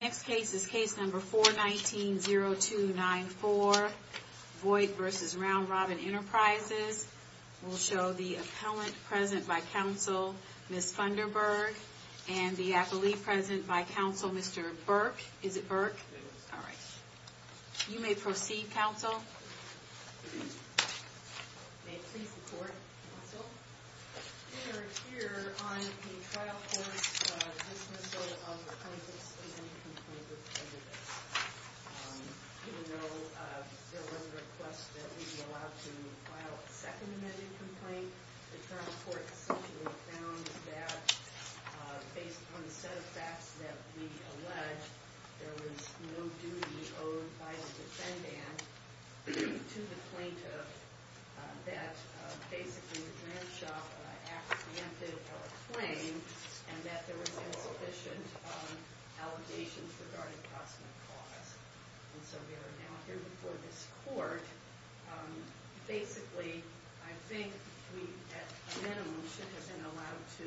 Next case is case number 419-0294, Voigt v. Round Robin Enterprises. We'll show the appellant present by counsel, Ms. Funderburg, and the appellee present by counsel, Mr. Burke. Is it Burke? All right. You may proceed, counsel. May it please the court, counsel. We are here on the trial court's dismissal of the plaintiff's amendment complaint with prejudice. Even though there was a request that we be allowed to file a second amendment complaint, the trial court essentially found that based on the set of facts that we allege, there was no duty owed by the defendant to the plaintiff, that basically the grant shop apprehended our claim, and that there were insufficient allegations regarding cost and the cost. And so we are now here before this court. Basically, I think we at minimum should have been allowed to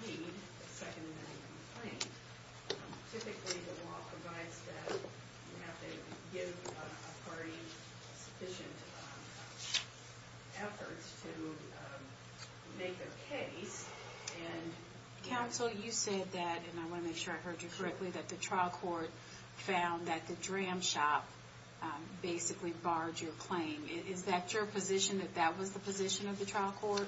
plead a second amendment complaint. Typically, the law provides that you have to give a party sufficient efforts to make a case. And counsel, you said that, and I want to make sure I heard you correctly, that the trial court found that the dram shop basically barred your claim. Is that your position, that that was the position of the trial court?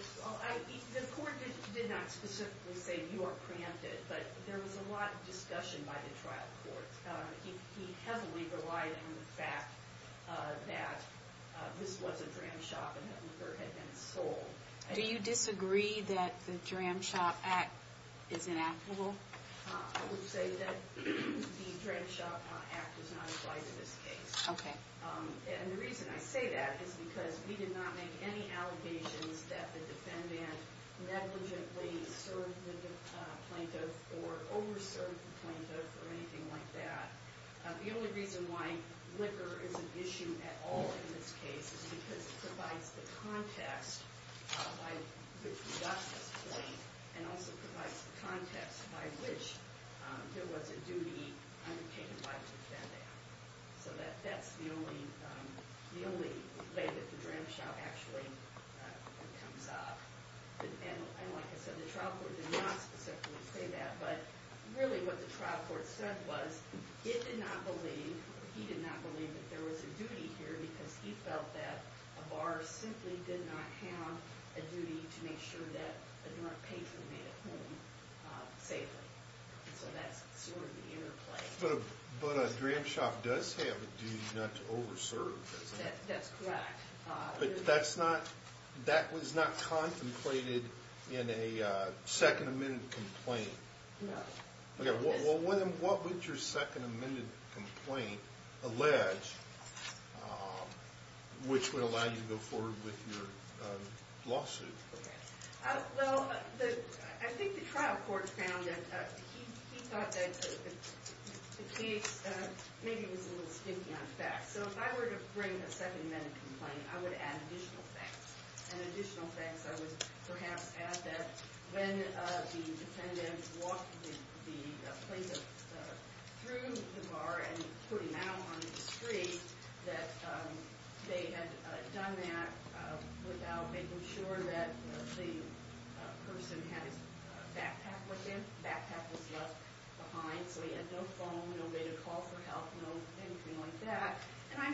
The court did not specifically say you are preempted, but there was a lot of discussion by the trial court. He heavily relied on the fact that this was a dram shop and that it had been sold. Do you disagree that the Dram Shop Act is inapplicable? I would say that the Dram Shop Act does not apply to this case. And the reason I say that is because we did not make any allegations that the defendant negligently served the plaintiff or over-served the plaintiff or anything like that. The only reason why liquor is an issue at all in this case is because it provides the context by which we got this point and also provides the context by which there was a duty undertaken by the defendant. So that's the only way that the Dram Shop actually comes up. And like I said, the trial court did not specifically say that, but really what the trial court said was it did not believe, he did not believe that there was a duty here because he felt that a bar simply did not have a duty to make sure that a drunk patron made it home safely. So that's sort of the interplay. But a Dram Shop does have a duty not to over-serve, doesn't it? That's correct. But that's not, that was not contemplated in a second amended complaint? No. Okay, well what would your second amended complaint allege which would allow you to go forward with your lawsuit? Well, I think the trial court found that he thought that the case maybe was a little stinky on facts. So if I were to bring a second amended complaint, I would add additional facts. And additional facts I would perhaps add that when the defendant walked the plaintiff through the bar and put him out on the street, that they had done that without making sure that the person had his backpack with him. The backpack was left behind, so he had no phone, no way to call for help, no anything like that. And I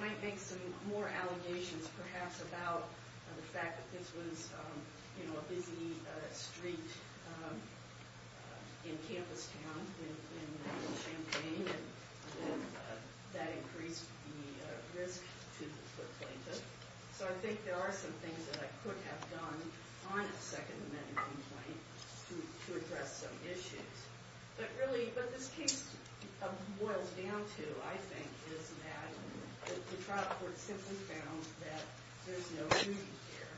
might make some more allegations perhaps about the fact that this was a busy street in Campus Town in Champaign and that increased the risk to the plaintiff. So I think there are some things that I could have done on a second amended complaint to address some issues. But really what this case boils down to, I think, is that the trial court simply found that there's no duty here.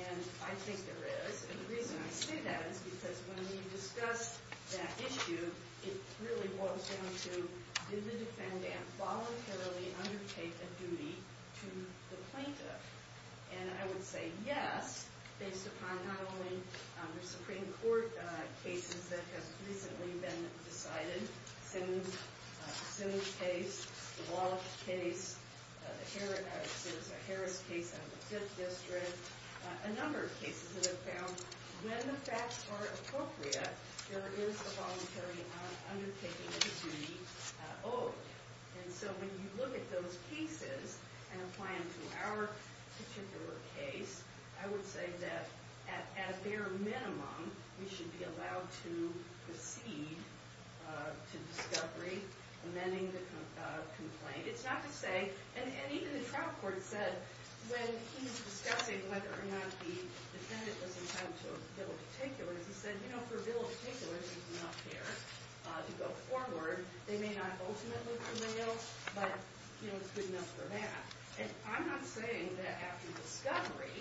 And I think there is, and the reason I say that is because when we discussed that issue, it really boils down to did the defendant voluntarily undertake a duty to the plaintiff? And I would say yes, based upon not only the Supreme Court cases that have recently been decided, Sims case, the Walsh case, the Harris case in the Fifth District, a number of cases that have been found, when the facts are appropriate, there is a voluntary undertaking of a duty owed. And so when you look at those cases and apply them to our particular case, I would say that at their minimum, we should be allowed to proceed to discovery amending the complaint. It's not to say, and even the trial court said when he was discussing whether or not the defendant was entitled to a bill of particulars, he said, you know, for a bill of particulars, there's enough there to go forward. They may not ultimately prevail, but, you know, it's good enough for that. And I'm not saying that after discovery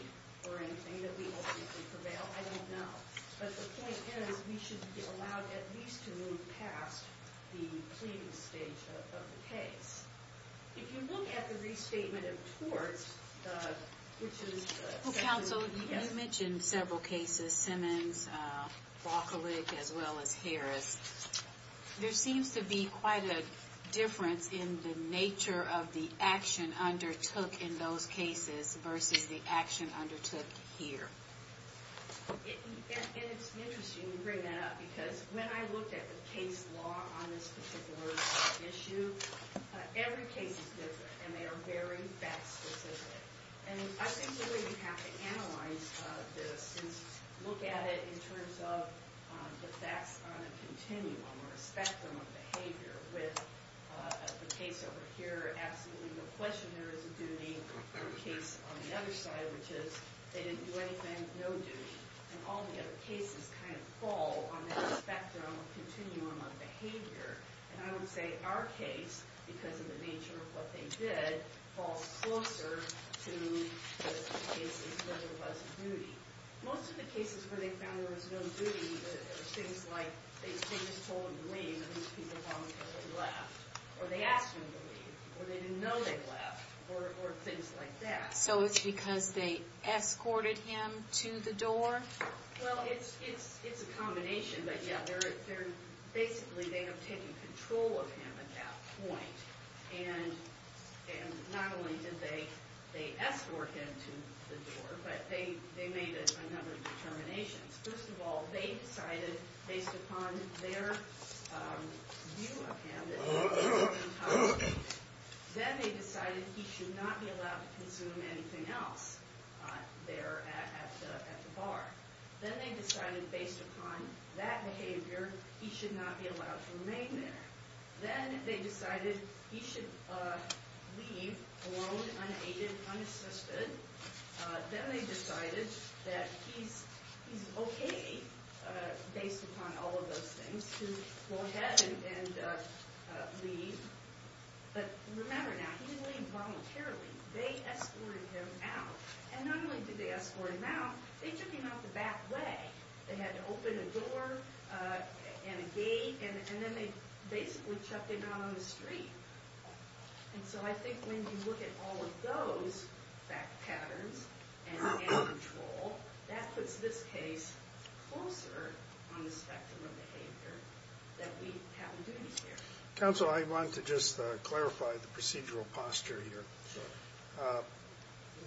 or anything that we ultimately prevail. I don't know. But the point is, we should be allowed at least to move past the pleading stage of the case. If you look at the restatement of torts, which is the- Well, counsel, you mentioned several cases, Simmons, Walker-Lick, as well as Harris. There seems to be quite a difference in the nature of the action undertook in those cases versus the action undertook here. And it's interesting you bring that up because when I looked at the case law on this particular issue, every case is different, and they are very fact-specific. And I think we really have to analyze this and look at it in terms of the facts on a continuum or a spectrum of behavior. With the case over here, absolutely no question there is a duty. The case on the other side, which is they didn't do anything, no duty. And all the other cases kind of fall on that spectrum, continuum of behavior. And I would say our case, because of the nature of what they did, falls closer to the cases where there was a duty. Most of the cases where they found there was no duty, there was things like they just told him to leave, and these people volunteered and left. Or they asked him to leave, or they didn't know they left, or things like that. So it's because they escorted him to the door? Well, it's a combination. But, yeah, basically they have taken control of him at that point. And not only did they escort him to the door, but they made a number of determinations. First of all, they decided, based upon their view of him, then they decided he should not be allowed to consume anything else there at the bar. Then they decided, based upon that behavior, he should not be allowed to remain there. Then they decided he should leave alone, unaided, unassisted. Then they decided that he's okay, based upon all of those things, to go ahead and leave. But remember now, he didn't leave voluntarily. They escorted him out. And not only did they escort him out, they took him out the back way. They had to open a door and a gate, and then they basically chucked him out on the street. And so I think when you look at all of those patterns and control, that puts this case closer on the spectrum of behavior that we haven't done here. Counsel, I want to just clarify the procedural posture here. Sure.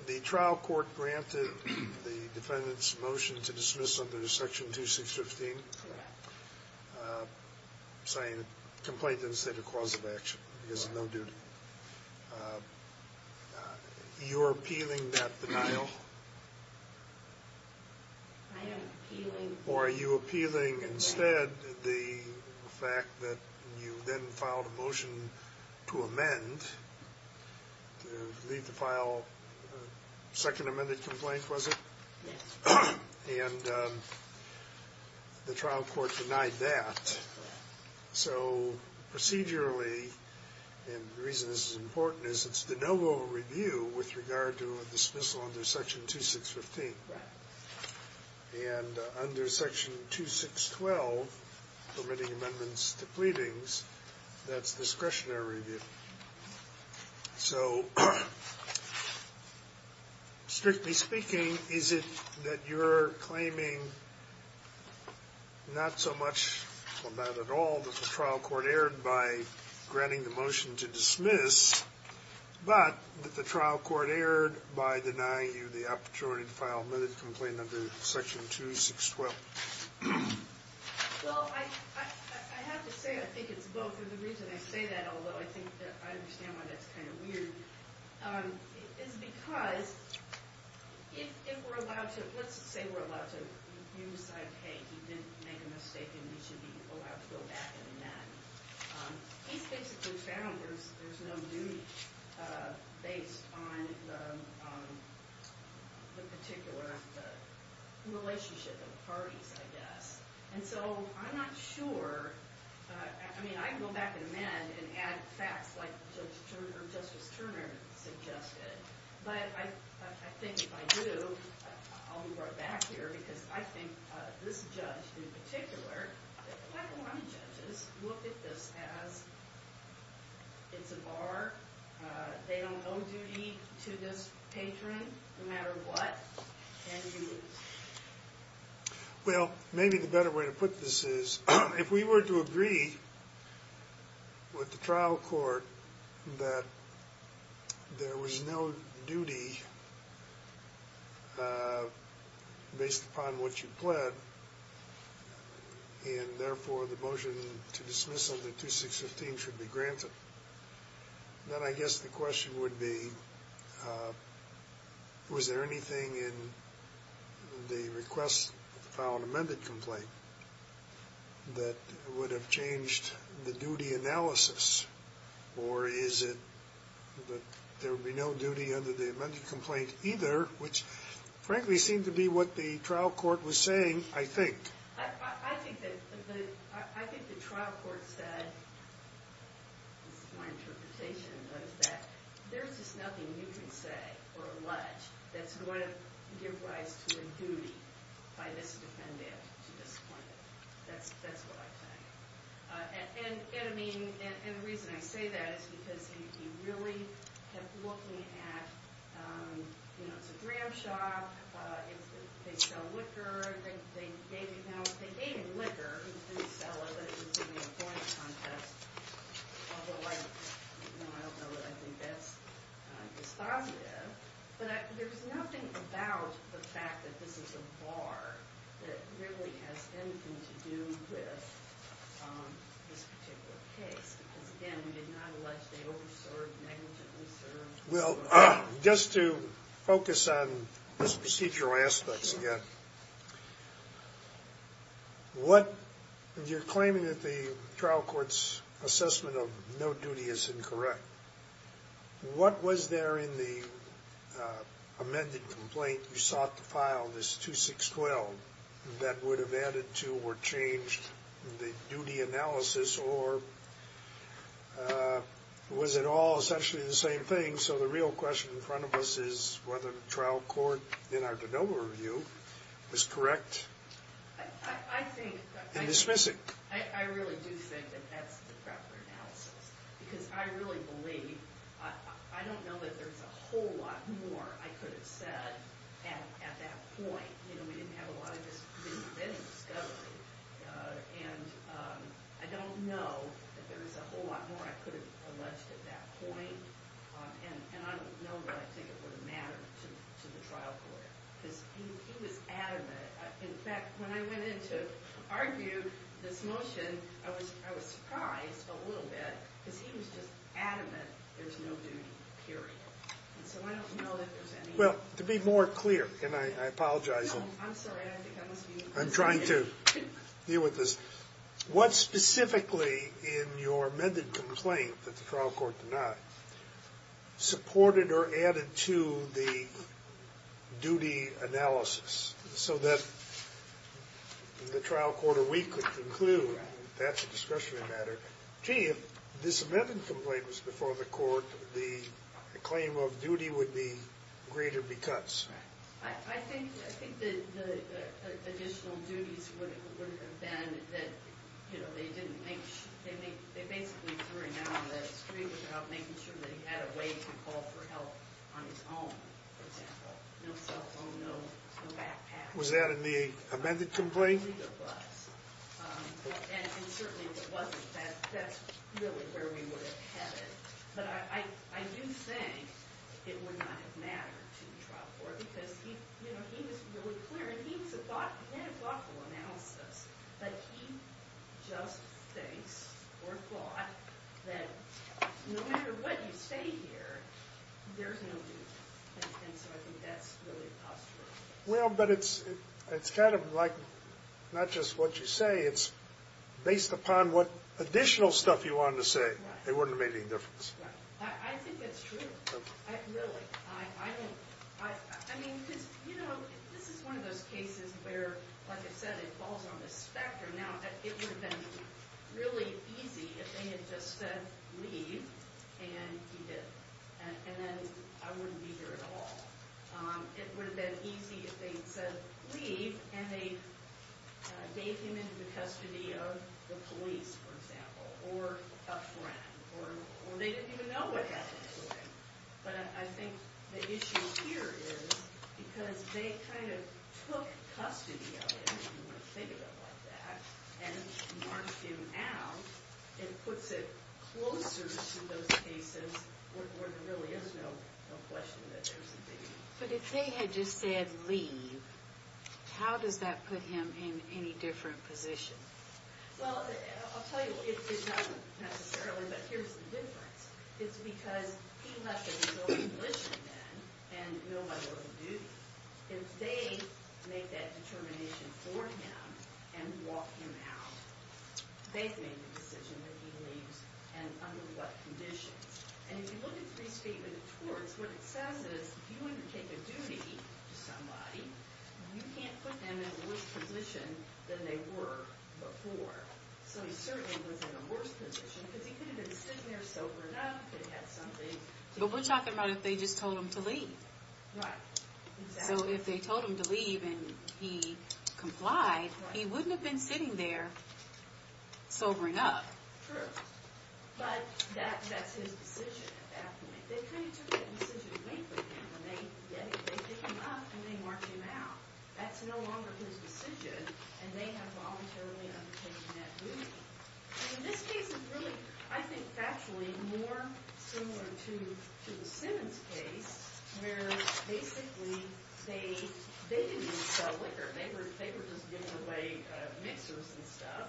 The trial court granted the defendant's motion to dismiss under Section 2615, saying the complaint didn't state a cause of action because of no duty. You're appealing that denial? I am appealing. Or are you appealing instead the fact that you then filed a motion to amend, to leave the file, a second amended complaint, was it? Yes. And the trial court denied that. So procedurally, and the reason this is important, is it's de novo review with regard to a dismissal under Section 2615. And under Section 2612, permitting amendments to pleadings, that's discretionary review. So strictly speaking, is it that you're claiming not so much, or not at all, that the trial court erred by granting the motion to dismiss, but that the trial court erred by denying you the opportunity to file an amended complaint under Section 2612? Well, I have to say I think it's both. And the reason I say that, although I think that I understand why that's kind of weird, is because if we're allowed to, let's say we're allowed to, you decide, hey, he didn't make a mistake and he should be allowed to go back and amend. He's basically found there's no duty based on the particular relationship of the parties, I guess. And so I'm not sure. I mean, I can go back and amend and add facts like Justice Turner suggested. But I think if I do, I'll be brought back here, because I think this judge in particular, like a lot of judges, look at this as it's a bar. They don't owe duty to this patron no matter what, and you lose. Well, maybe the better way to put this is, if we were to agree with the trial court that there was no duty based upon what you pled, and therefore the motion to dismiss under 2615 should be granted, then I guess the question would be, was there anything in the request to file an amended complaint that would have changed the duty analysis? Or is it that there would be no duty under the amended complaint either, which frankly seemed to be what the trial court was saying, I think. I think the trial court said, this is my interpretation, was that there's just nothing you can say or allege that's going to give rise to a duty by this defendant to this plaintiff. That's what I think. And the reason I say that is because he really kept looking at, you know, it's a gram shop, they sell liquor, they gave him liquor, he didn't sell it, but it was in the employment contest. Although I don't know that I think that's dispositive. But there's nothing about the fact that this is a bar that really has anything to do with this particular case. Because, again, we did not allege they over-served, negatively served. Well, just to focus on these procedural aspects again, you're claiming that the trial court's assessment of no duty is incorrect. What was there in the amended complaint you sought to file, this 2-6-12, that would have added to or changed the duty analysis or was it all essentially the same thing? So the real question in front of us is whether the trial court, in our de novo review, was correct in dismissing. I really do think that that's the proper analysis because I really believe, I don't know that there's a whole lot more I could have said at that point. You know, we didn't have a lot of this, we didn't have any discovery. And I don't know that there's a whole lot more I could have alleged at that point. And I don't know that I think it would have mattered to the trial court. Because he was adamant. In fact, when I went in to argue this motion, I was surprised a little bit because he was just adamant there's no duty, period. And so I don't know that there's any... Well, to be more clear, and I apologize... No, I'm sorry, I think I must be... I'm trying to deal with this. What specifically in your amended complaint that the trial court denied supported or added to the duty analysis so that the trial court or we could conclude that's a discretionary matter? Gee, if this amended complaint was before the court, the claim of duty would be greater because. I think the additional duties would have been that, you know, they basically threw him out on the street without making sure that he had a way to call for help on his own, for example. Was that in the amended complaint? It was. And certainly if it wasn't, that's really where we would have headed. But I do think it would not have mattered to the trial court because he was really clear and he had a thoughtful analysis. But he just thinks or thought that no matter what you say here, there's no duty. And so I think that's really postural. Well, but it's kind of like not just what you say, it's based upon what additional stuff you wanted to say. It wouldn't have made any difference. I think that's true, really. I mean, you know, this is one of those cases where, like I said, it falls on this spectrum. Now, it would have been really easy if they had just said leave and he did. And then I wouldn't be here at all. It would have been easy if they said leave and they gave him into the custody of the police, for example, or a friend, or they didn't even know what happened to him. But I think the issue here is because they kind of took custody of him, if you want to think about it like that, and marched him out, it puts it closer to those cases where there really is no question that there's a duty. But if they had just said leave, how does that put him in any different position? Well, I'll tell you, it doesn't necessarily. But here's the difference. It's because he left his own mission then and no longer a duty. If they make that determination for him and walk him out, they've made the decision that he leaves and under what conditions. And if you look at Free Statement of Torts, what it says is if you undertake a duty to somebody, you can't put them in a worse position than they were before. So he certainly was in a worse position because he could have been sitting there sober enough, could have had something to do. But we're talking about if they just told him to leave. Right, exactly. So if they told him to leave and he complied, he wouldn't have been sitting there sobering up. True. But that's his decision at that point. They kind of took that decision to make with him. They picked him up and they marched him out. That's no longer his decision, and they have voluntarily undertaken that duty. This case is really, I think factually, more similar to the Simmons case where basically they didn't even sell liquor. They were just giving away mixers and stuff.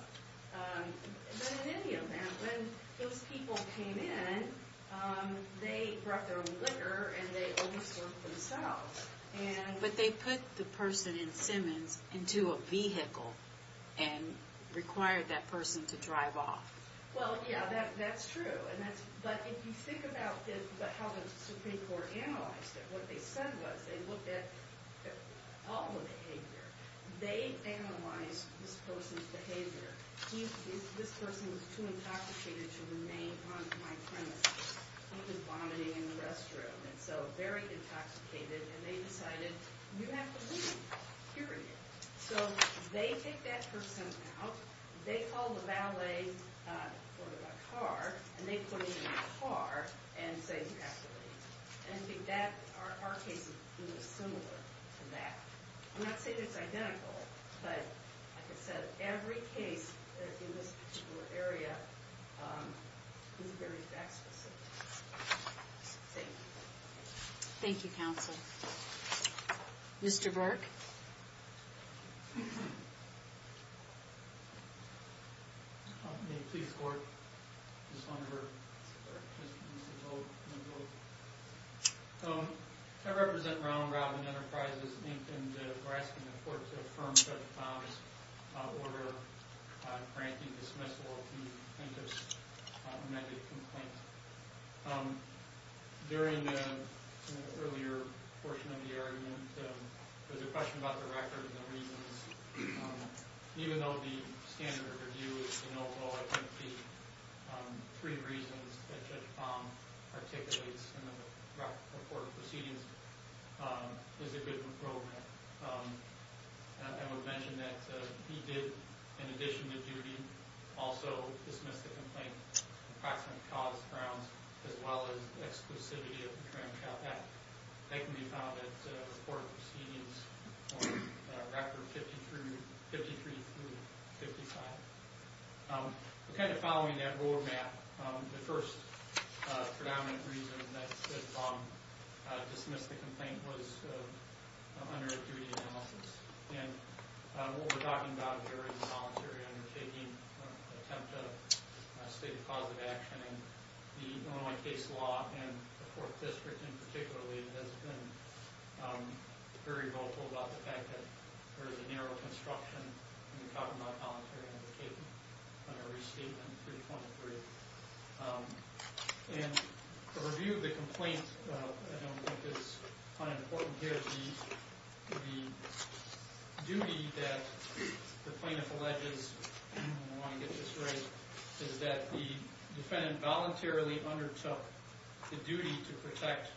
But in any event, when those people came in, they brought their own liquor and they over-served themselves. But they put the person in Simmons into a vehicle and required that person to drive off. Well, yeah, that's true. But if you think about how the Supreme Court analyzed it, what they said was they looked at all the behavior. They analyzed this person's behavior. This person was too intoxicated to remain on my premise. He was vomiting in the restroom and so very intoxicated, and they decided, you have to leave, period. So they take that person out. They call the valet for the car, and they put him in the car and say, you have to leave. And I think that our case is similar to that. I'm not saying it's identical, but like I said, every case that's in this particular area is very fact-specific. Thank you. Thank you, counsel. Mr. Burke? May it please the Court? I just wanted to make a note. I represent Ronald Robin Enterprises, Inc., and we're asking the Court to affirm Judge Palm's order on granting dismissal of the plaintiff's amended complaint. During the earlier portion of the argument, there was a question about the record and the reasons. Even though the standard review is to note all three reasons that Judge Palm articulates in the record of court proceedings, there's a good improvement. I would mention that he did, in addition to duty, also dismiss the complaint of approximate cause, grounds, as well as exclusivity of the Crime Child Act. That can be found at the court proceedings on Record 53-55. Kind of following that roadmap, the first predominant reason that Judge Palm dismissed the complaint was under a duty analysis. And what we're talking about here is a voluntary undertaking, an attempt to state a cause of action, and the Illinois case law and the court district in particular has been very vocal about the fact that there is a narrow construction in the copyright voluntary undertaking under Restatement 323. And the review of the complaint, I don't think it's unimportant here, the duty that the plaintiff alleges, and I want to get this right, is that the defendant voluntarily undertook the duty to protect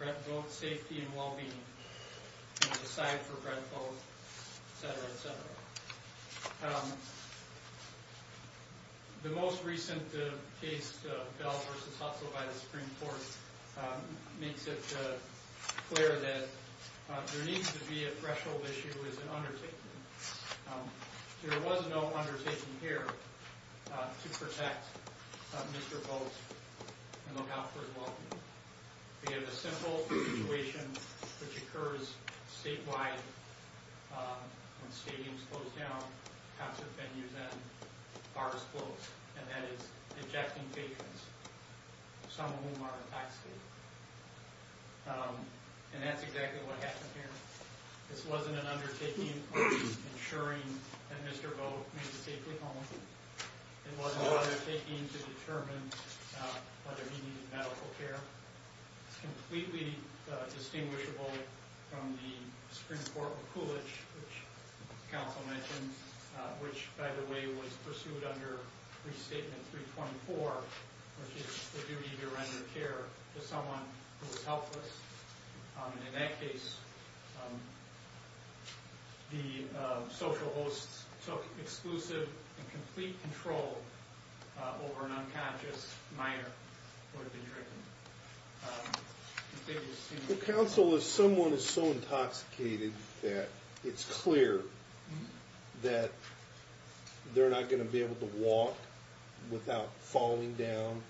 rent, vote, safety, and well-being, and decide for rent, vote, et cetera, et cetera. The most recent case, Bell v. Hotsaw by the Supreme Court, makes it clear that there needs to be a threshold issue, is an undertaking. There was no undertaking here to protect Mr. Post and look out for his well-being. We have a simple situation which occurs statewide when stadiums close down, concert venues end, bars close, and that is ejecting patrons, some of whom are in high school. And that's exactly what happened here. This wasn't an undertaking ensuring that Mr. Vote made it safely home. It wasn't an undertaking to determine whether he needed medical care. It's completely distinguishable from the Supreme Court with Coolidge, which the counsel mentioned, which, by the way, was pursued under Restatement 324, which is the duty to render care to someone who is helpless. In that case, the social hosts took exclusive and complete control over an unconscious minor who had been drinking. The counsel is someone is so intoxicated that it's clear that they're not going to be able to walk without falling down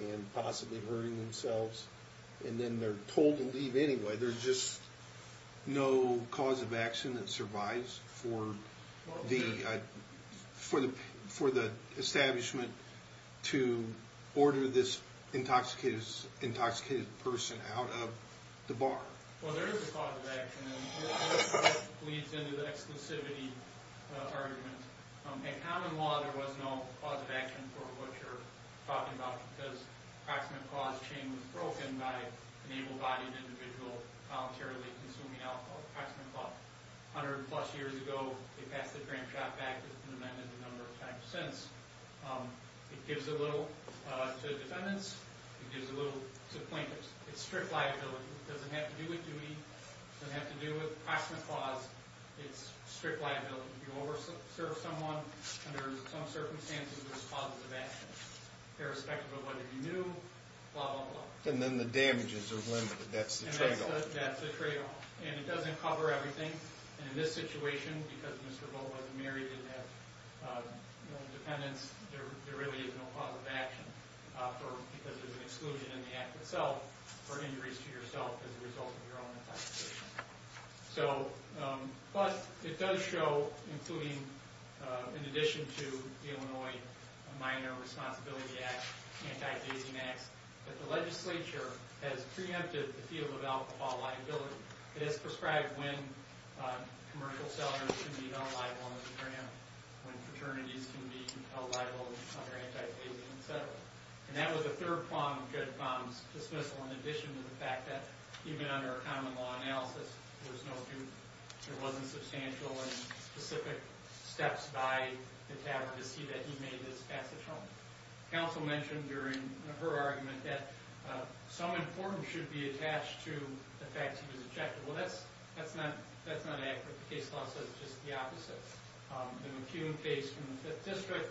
and possibly hurting themselves. And then they're told to leave anyway. There's just no cause of action that survives for the establishment to order this intoxicated person out of the bar. Well, there is a cause of action, and that leads into the exclusivity argument. In common law, there was no cause of action for what you're talking about because the Proximate Clause chain was broken by an able-bodied individual voluntarily consuming alcohol. The Proximate Clause, 100-plus years ago, they passed the Dram Shop Act, an amendment a number of times since. It gives a little to defendants. It gives a little to plaintiffs. It's strict liability. It doesn't have to do with duty. It doesn't have to do with Proximate Clause. It's strict liability. If you over-serve someone under some circumstances, irrespective of whether you knew, blah, blah, blah. And then the damages are limited. That's the trade-off. That's the trade-off. And it doesn't cover everything. In this situation, because Mr. Vogt wasn't married and had no dependents, there really is no cause of action because there's an exclusion in the Act itself for injuries to yourself as a result of your own intoxication. So, plus, it does show, including in addition to the Illinois Minor Responsibility Act, anti-dazing acts, that the legislature has preempted the field of alcohol liability. It has prescribed when commercial sellers can be held liable under the Dram, when fraternities can be held liable under anti-dazing, et cetera. And that was the third prong of Judge Baum's dismissal, in addition to the fact that, even under a common-law analysis, there was no proof. There wasn't substantial and specific steps by the tavern to see that he made this passage home. Counsel mentioned during her argument that some importance should be attached to the fact that he was ejected. Well, that's not accurate. The case law says just the opposite. The McCune case from the Fifth District,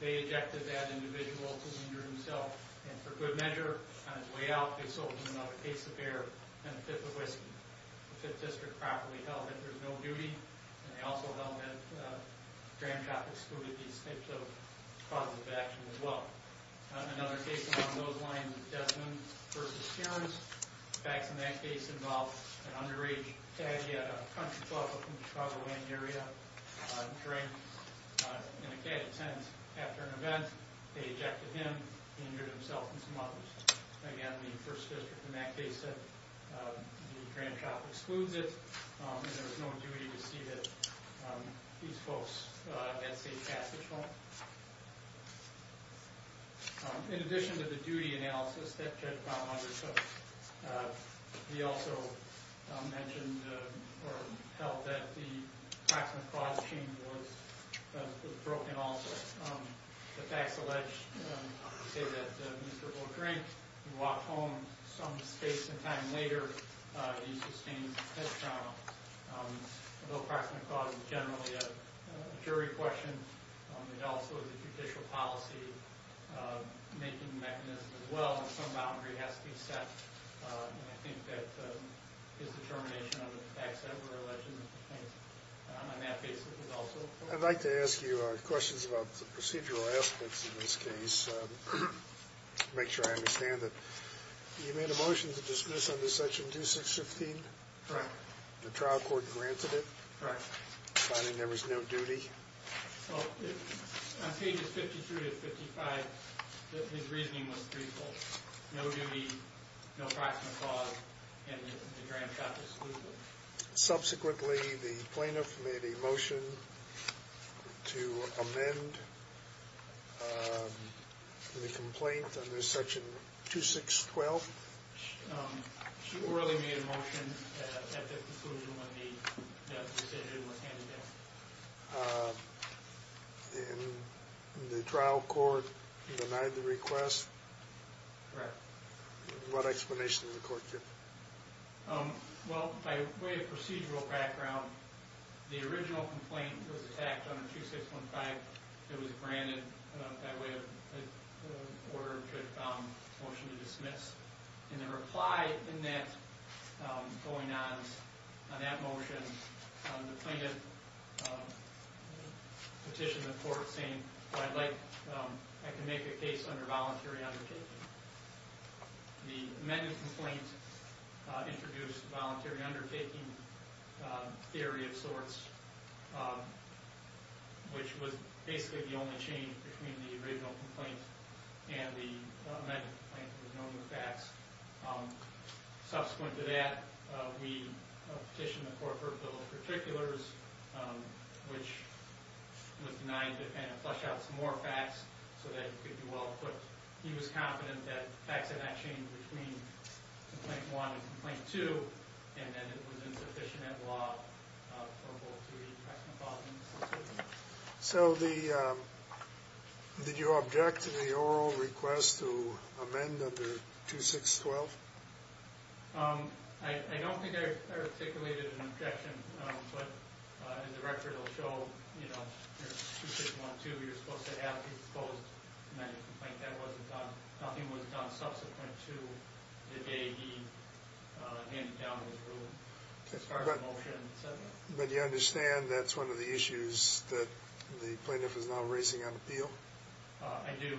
they ejected that individual to injure himself, and for good measure, on his way out, they sold him another case of beer and a fifth of whiskey. The Fifth District properly held that there was no duty, and they also held that Dram shop excluded these types of causes of action as well. Another case along those lines is Desmond v. Cairns. The facts in that case involve an underage cad, he had a country club up in the Chicago-land area, drink, and a cad attends after an event, they ejected him, injured himself, and some others. Again, the First District in that case said the Dram shop excludes it, and there was no duty to see that these folks had safe passage home. In addition to the duty analysis that Judge Brown undertook, he also mentioned or held that the proximate clause machine was broken also. The facts allege that Mr. Boehring walked home some space and time later, he sustained head trauma. The proximate clause is generally a jury question, it also is a judicial policy making mechanism as well, and some boundary has to be set, and I think that his determination of the facts that were alleged in the case on that basis is also important. I'd like to ask you questions about the procedural aspects in this case, to make sure I understand it. You made a motion to dismiss under section 2615? Right. The trial court granted it? Right. Finding there was no duty? Well, on pages 52 to 55, his reasoning was threefold. No duty, no proximate clause, and the Dram shop excludes it. Subsequently, the plaintiff made a motion to amend the complaint under section 2612? She orally made a motion at the conclusion when the decision was handed down. And the trial court denied the request? Correct. What explanation did the court give? Well, by way of procedural background, the original complaint was attacked under 2615. It was granted by way of order to motion to dismiss. In the reply in that going on, on that motion, the plaintiff petitioned the court saying, well, I'd like, I can make a case under voluntary undertaking. The amended complaint introduced voluntary undertaking theory of sorts, which was basically the only change between the original complaint and the amended complaint. There was no new facts. Subsequent to that, we petitioned the court for a bill of particulars, which was denied and flushed out some more facts so that it could be well-equipped. He was confident that facts had not changed between Complaint 1 and Complaint 2, and that it was insufficient law for both to be pressed upon. So did you object to the oral request to amend under 2612? I don't think I articulated an objection, but as the record will show, you know, nothing was done subsequent to the day he handed down his ruling as part of the motion. But you understand that's one of the issues that the plaintiff is now raising on appeal? I do.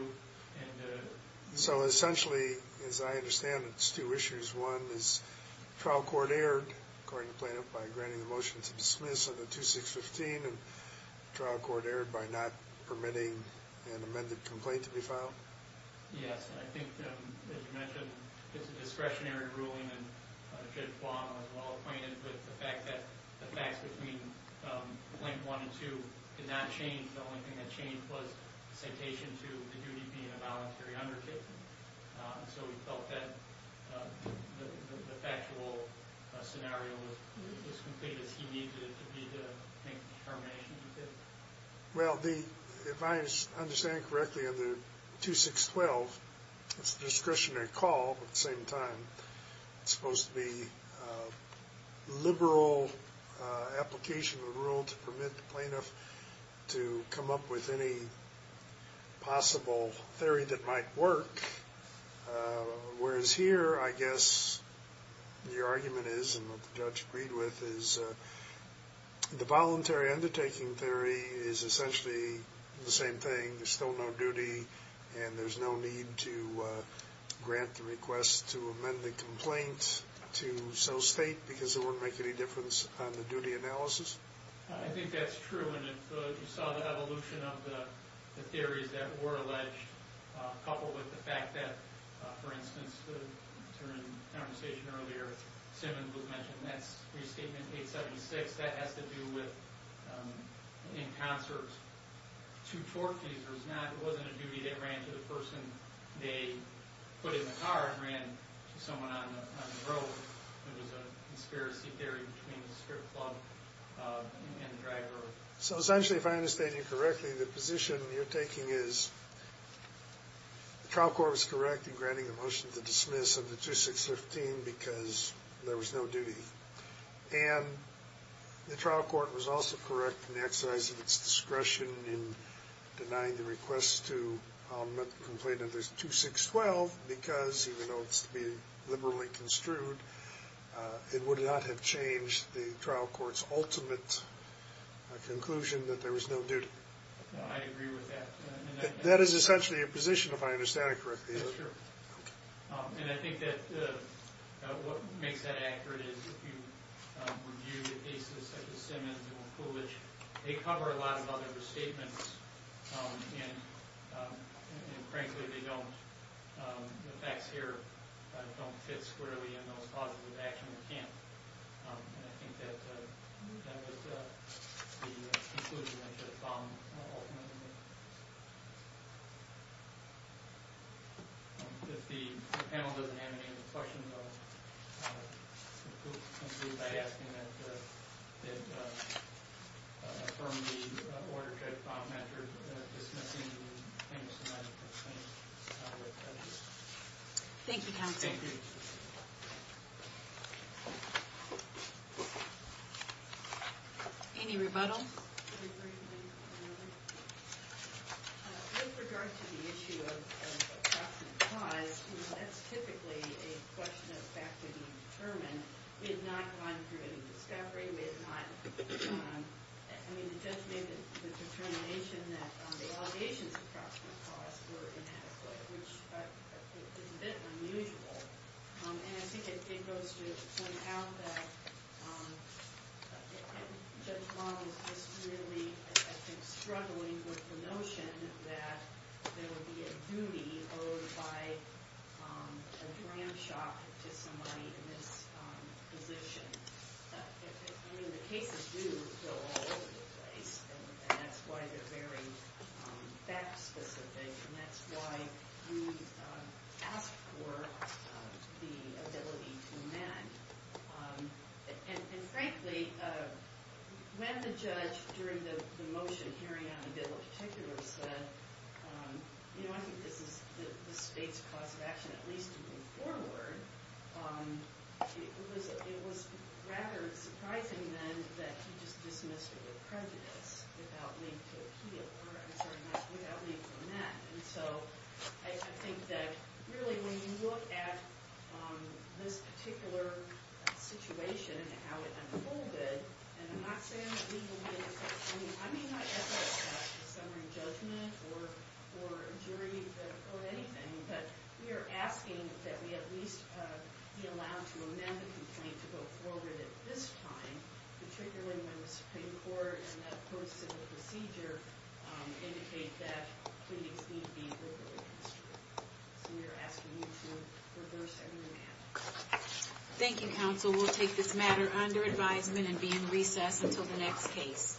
So essentially, as I understand it, it's two issues. One is trial court erred, according to the plaintiff, by granting the motion to dismiss under 2615, and trial court erred by not permitting an amended complaint to be filed? Yes. I think, as you mentioned, it's a discretionary ruling, and Judge Guam was well acquainted with the fact that the facts between Complaint 1 and 2 did not change. The only thing that changed was the citation to the duty being a voluntary undertaking. So he felt that the factual scenario was as complete as he needed it to be to make the determination he did? Well, if I understand correctly, under 2612, it's a discretionary call, but at the same time, it's supposed to be a liberal application of the rule to permit the plaintiff to come up with any possible theory that might work. Whereas here, I guess your argument is, and what the judge agreed with, is the voluntary undertaking theory is essentially the same thing. There's still no duty, and there's no need to grant the request to amend the complaint to so state, because it wouldn't make any difference on the duty analysis. I think that's true, and if you saw the evolution of the theories that were alleged, coupled with the fact that, for instance, the conversation earlier, Simmons was mentioning, that's Restatement 876, that has to do with, in concert, two torque teasers. It wasn't a duty that ran to the person they put in the car, it ran to someone on the road. There was a conspiracy theory between the strip club and the driver. So essentially, if I understand you correctly, the position you're taking is, the trial court was correct in granting the motion to dismiss under 2615 because there was no duty, and the trial court was also correct in exercising its discretion in denying the request to be liberally construed. It would not have changed the trial court's ultimate conclusion that there was no duty. I agree with that. That is essentially your position, if I understand it correctly. That's true. And I think that what makes that accurate is, if you review the cases such as Simmons or Kulich, they cover a lot of other restatements, and frankly, they don't. The facts here don't fit squarely in those clauses of action. They can't. And I think that would be the conclusion I should have found ultimately. If the panel doesn't have any other questions, I'll conclude by asking that we affirm the order to file measures dismissing the famous medical claims with prejudice. Thank you, counsel. Thank you. Any rebuttals? With regard to the issue of approximate cause, that's typically a question of fact to be determined. We have not gone through any discovery. We have not. I mean, the judge made the determination that the allegations of approximate cause were inadequate, which is a bit unusual. And I think it goes to point out that Judge Long is just really, I think, struggling with the notion that there would be a duty owed by a gram shop to somebody in this position. I mean, the cases do go all over the place, and that's why they're very fact specific, and that's why we ask for the ability to amend. And, frankly, when the judge, during the motion hearing on the bill in particular, said, you know, I think this is the state's cause of action at least to move forward, it was rather surprising then that he just dismissed it with prejudice, without leaving to appeal, or I'm sorry, without leaving to amend. And so I think that, really, when you look at this particular situation and how it unfolded, and I'm not saying that we will be able to, I mean, I'm not echoing a summary judgment or a jury vote or anything, but we are asking that we at least be allowed to amend the complaint to go forward at this time, particularly when the Supreme Court, in that post-civil procedure, indicate that pleadings need to be verbally construed. So we are asking you to reverse every amendment. Thank you, counsel. We'll take this matter under advisement and be in recess until the next case.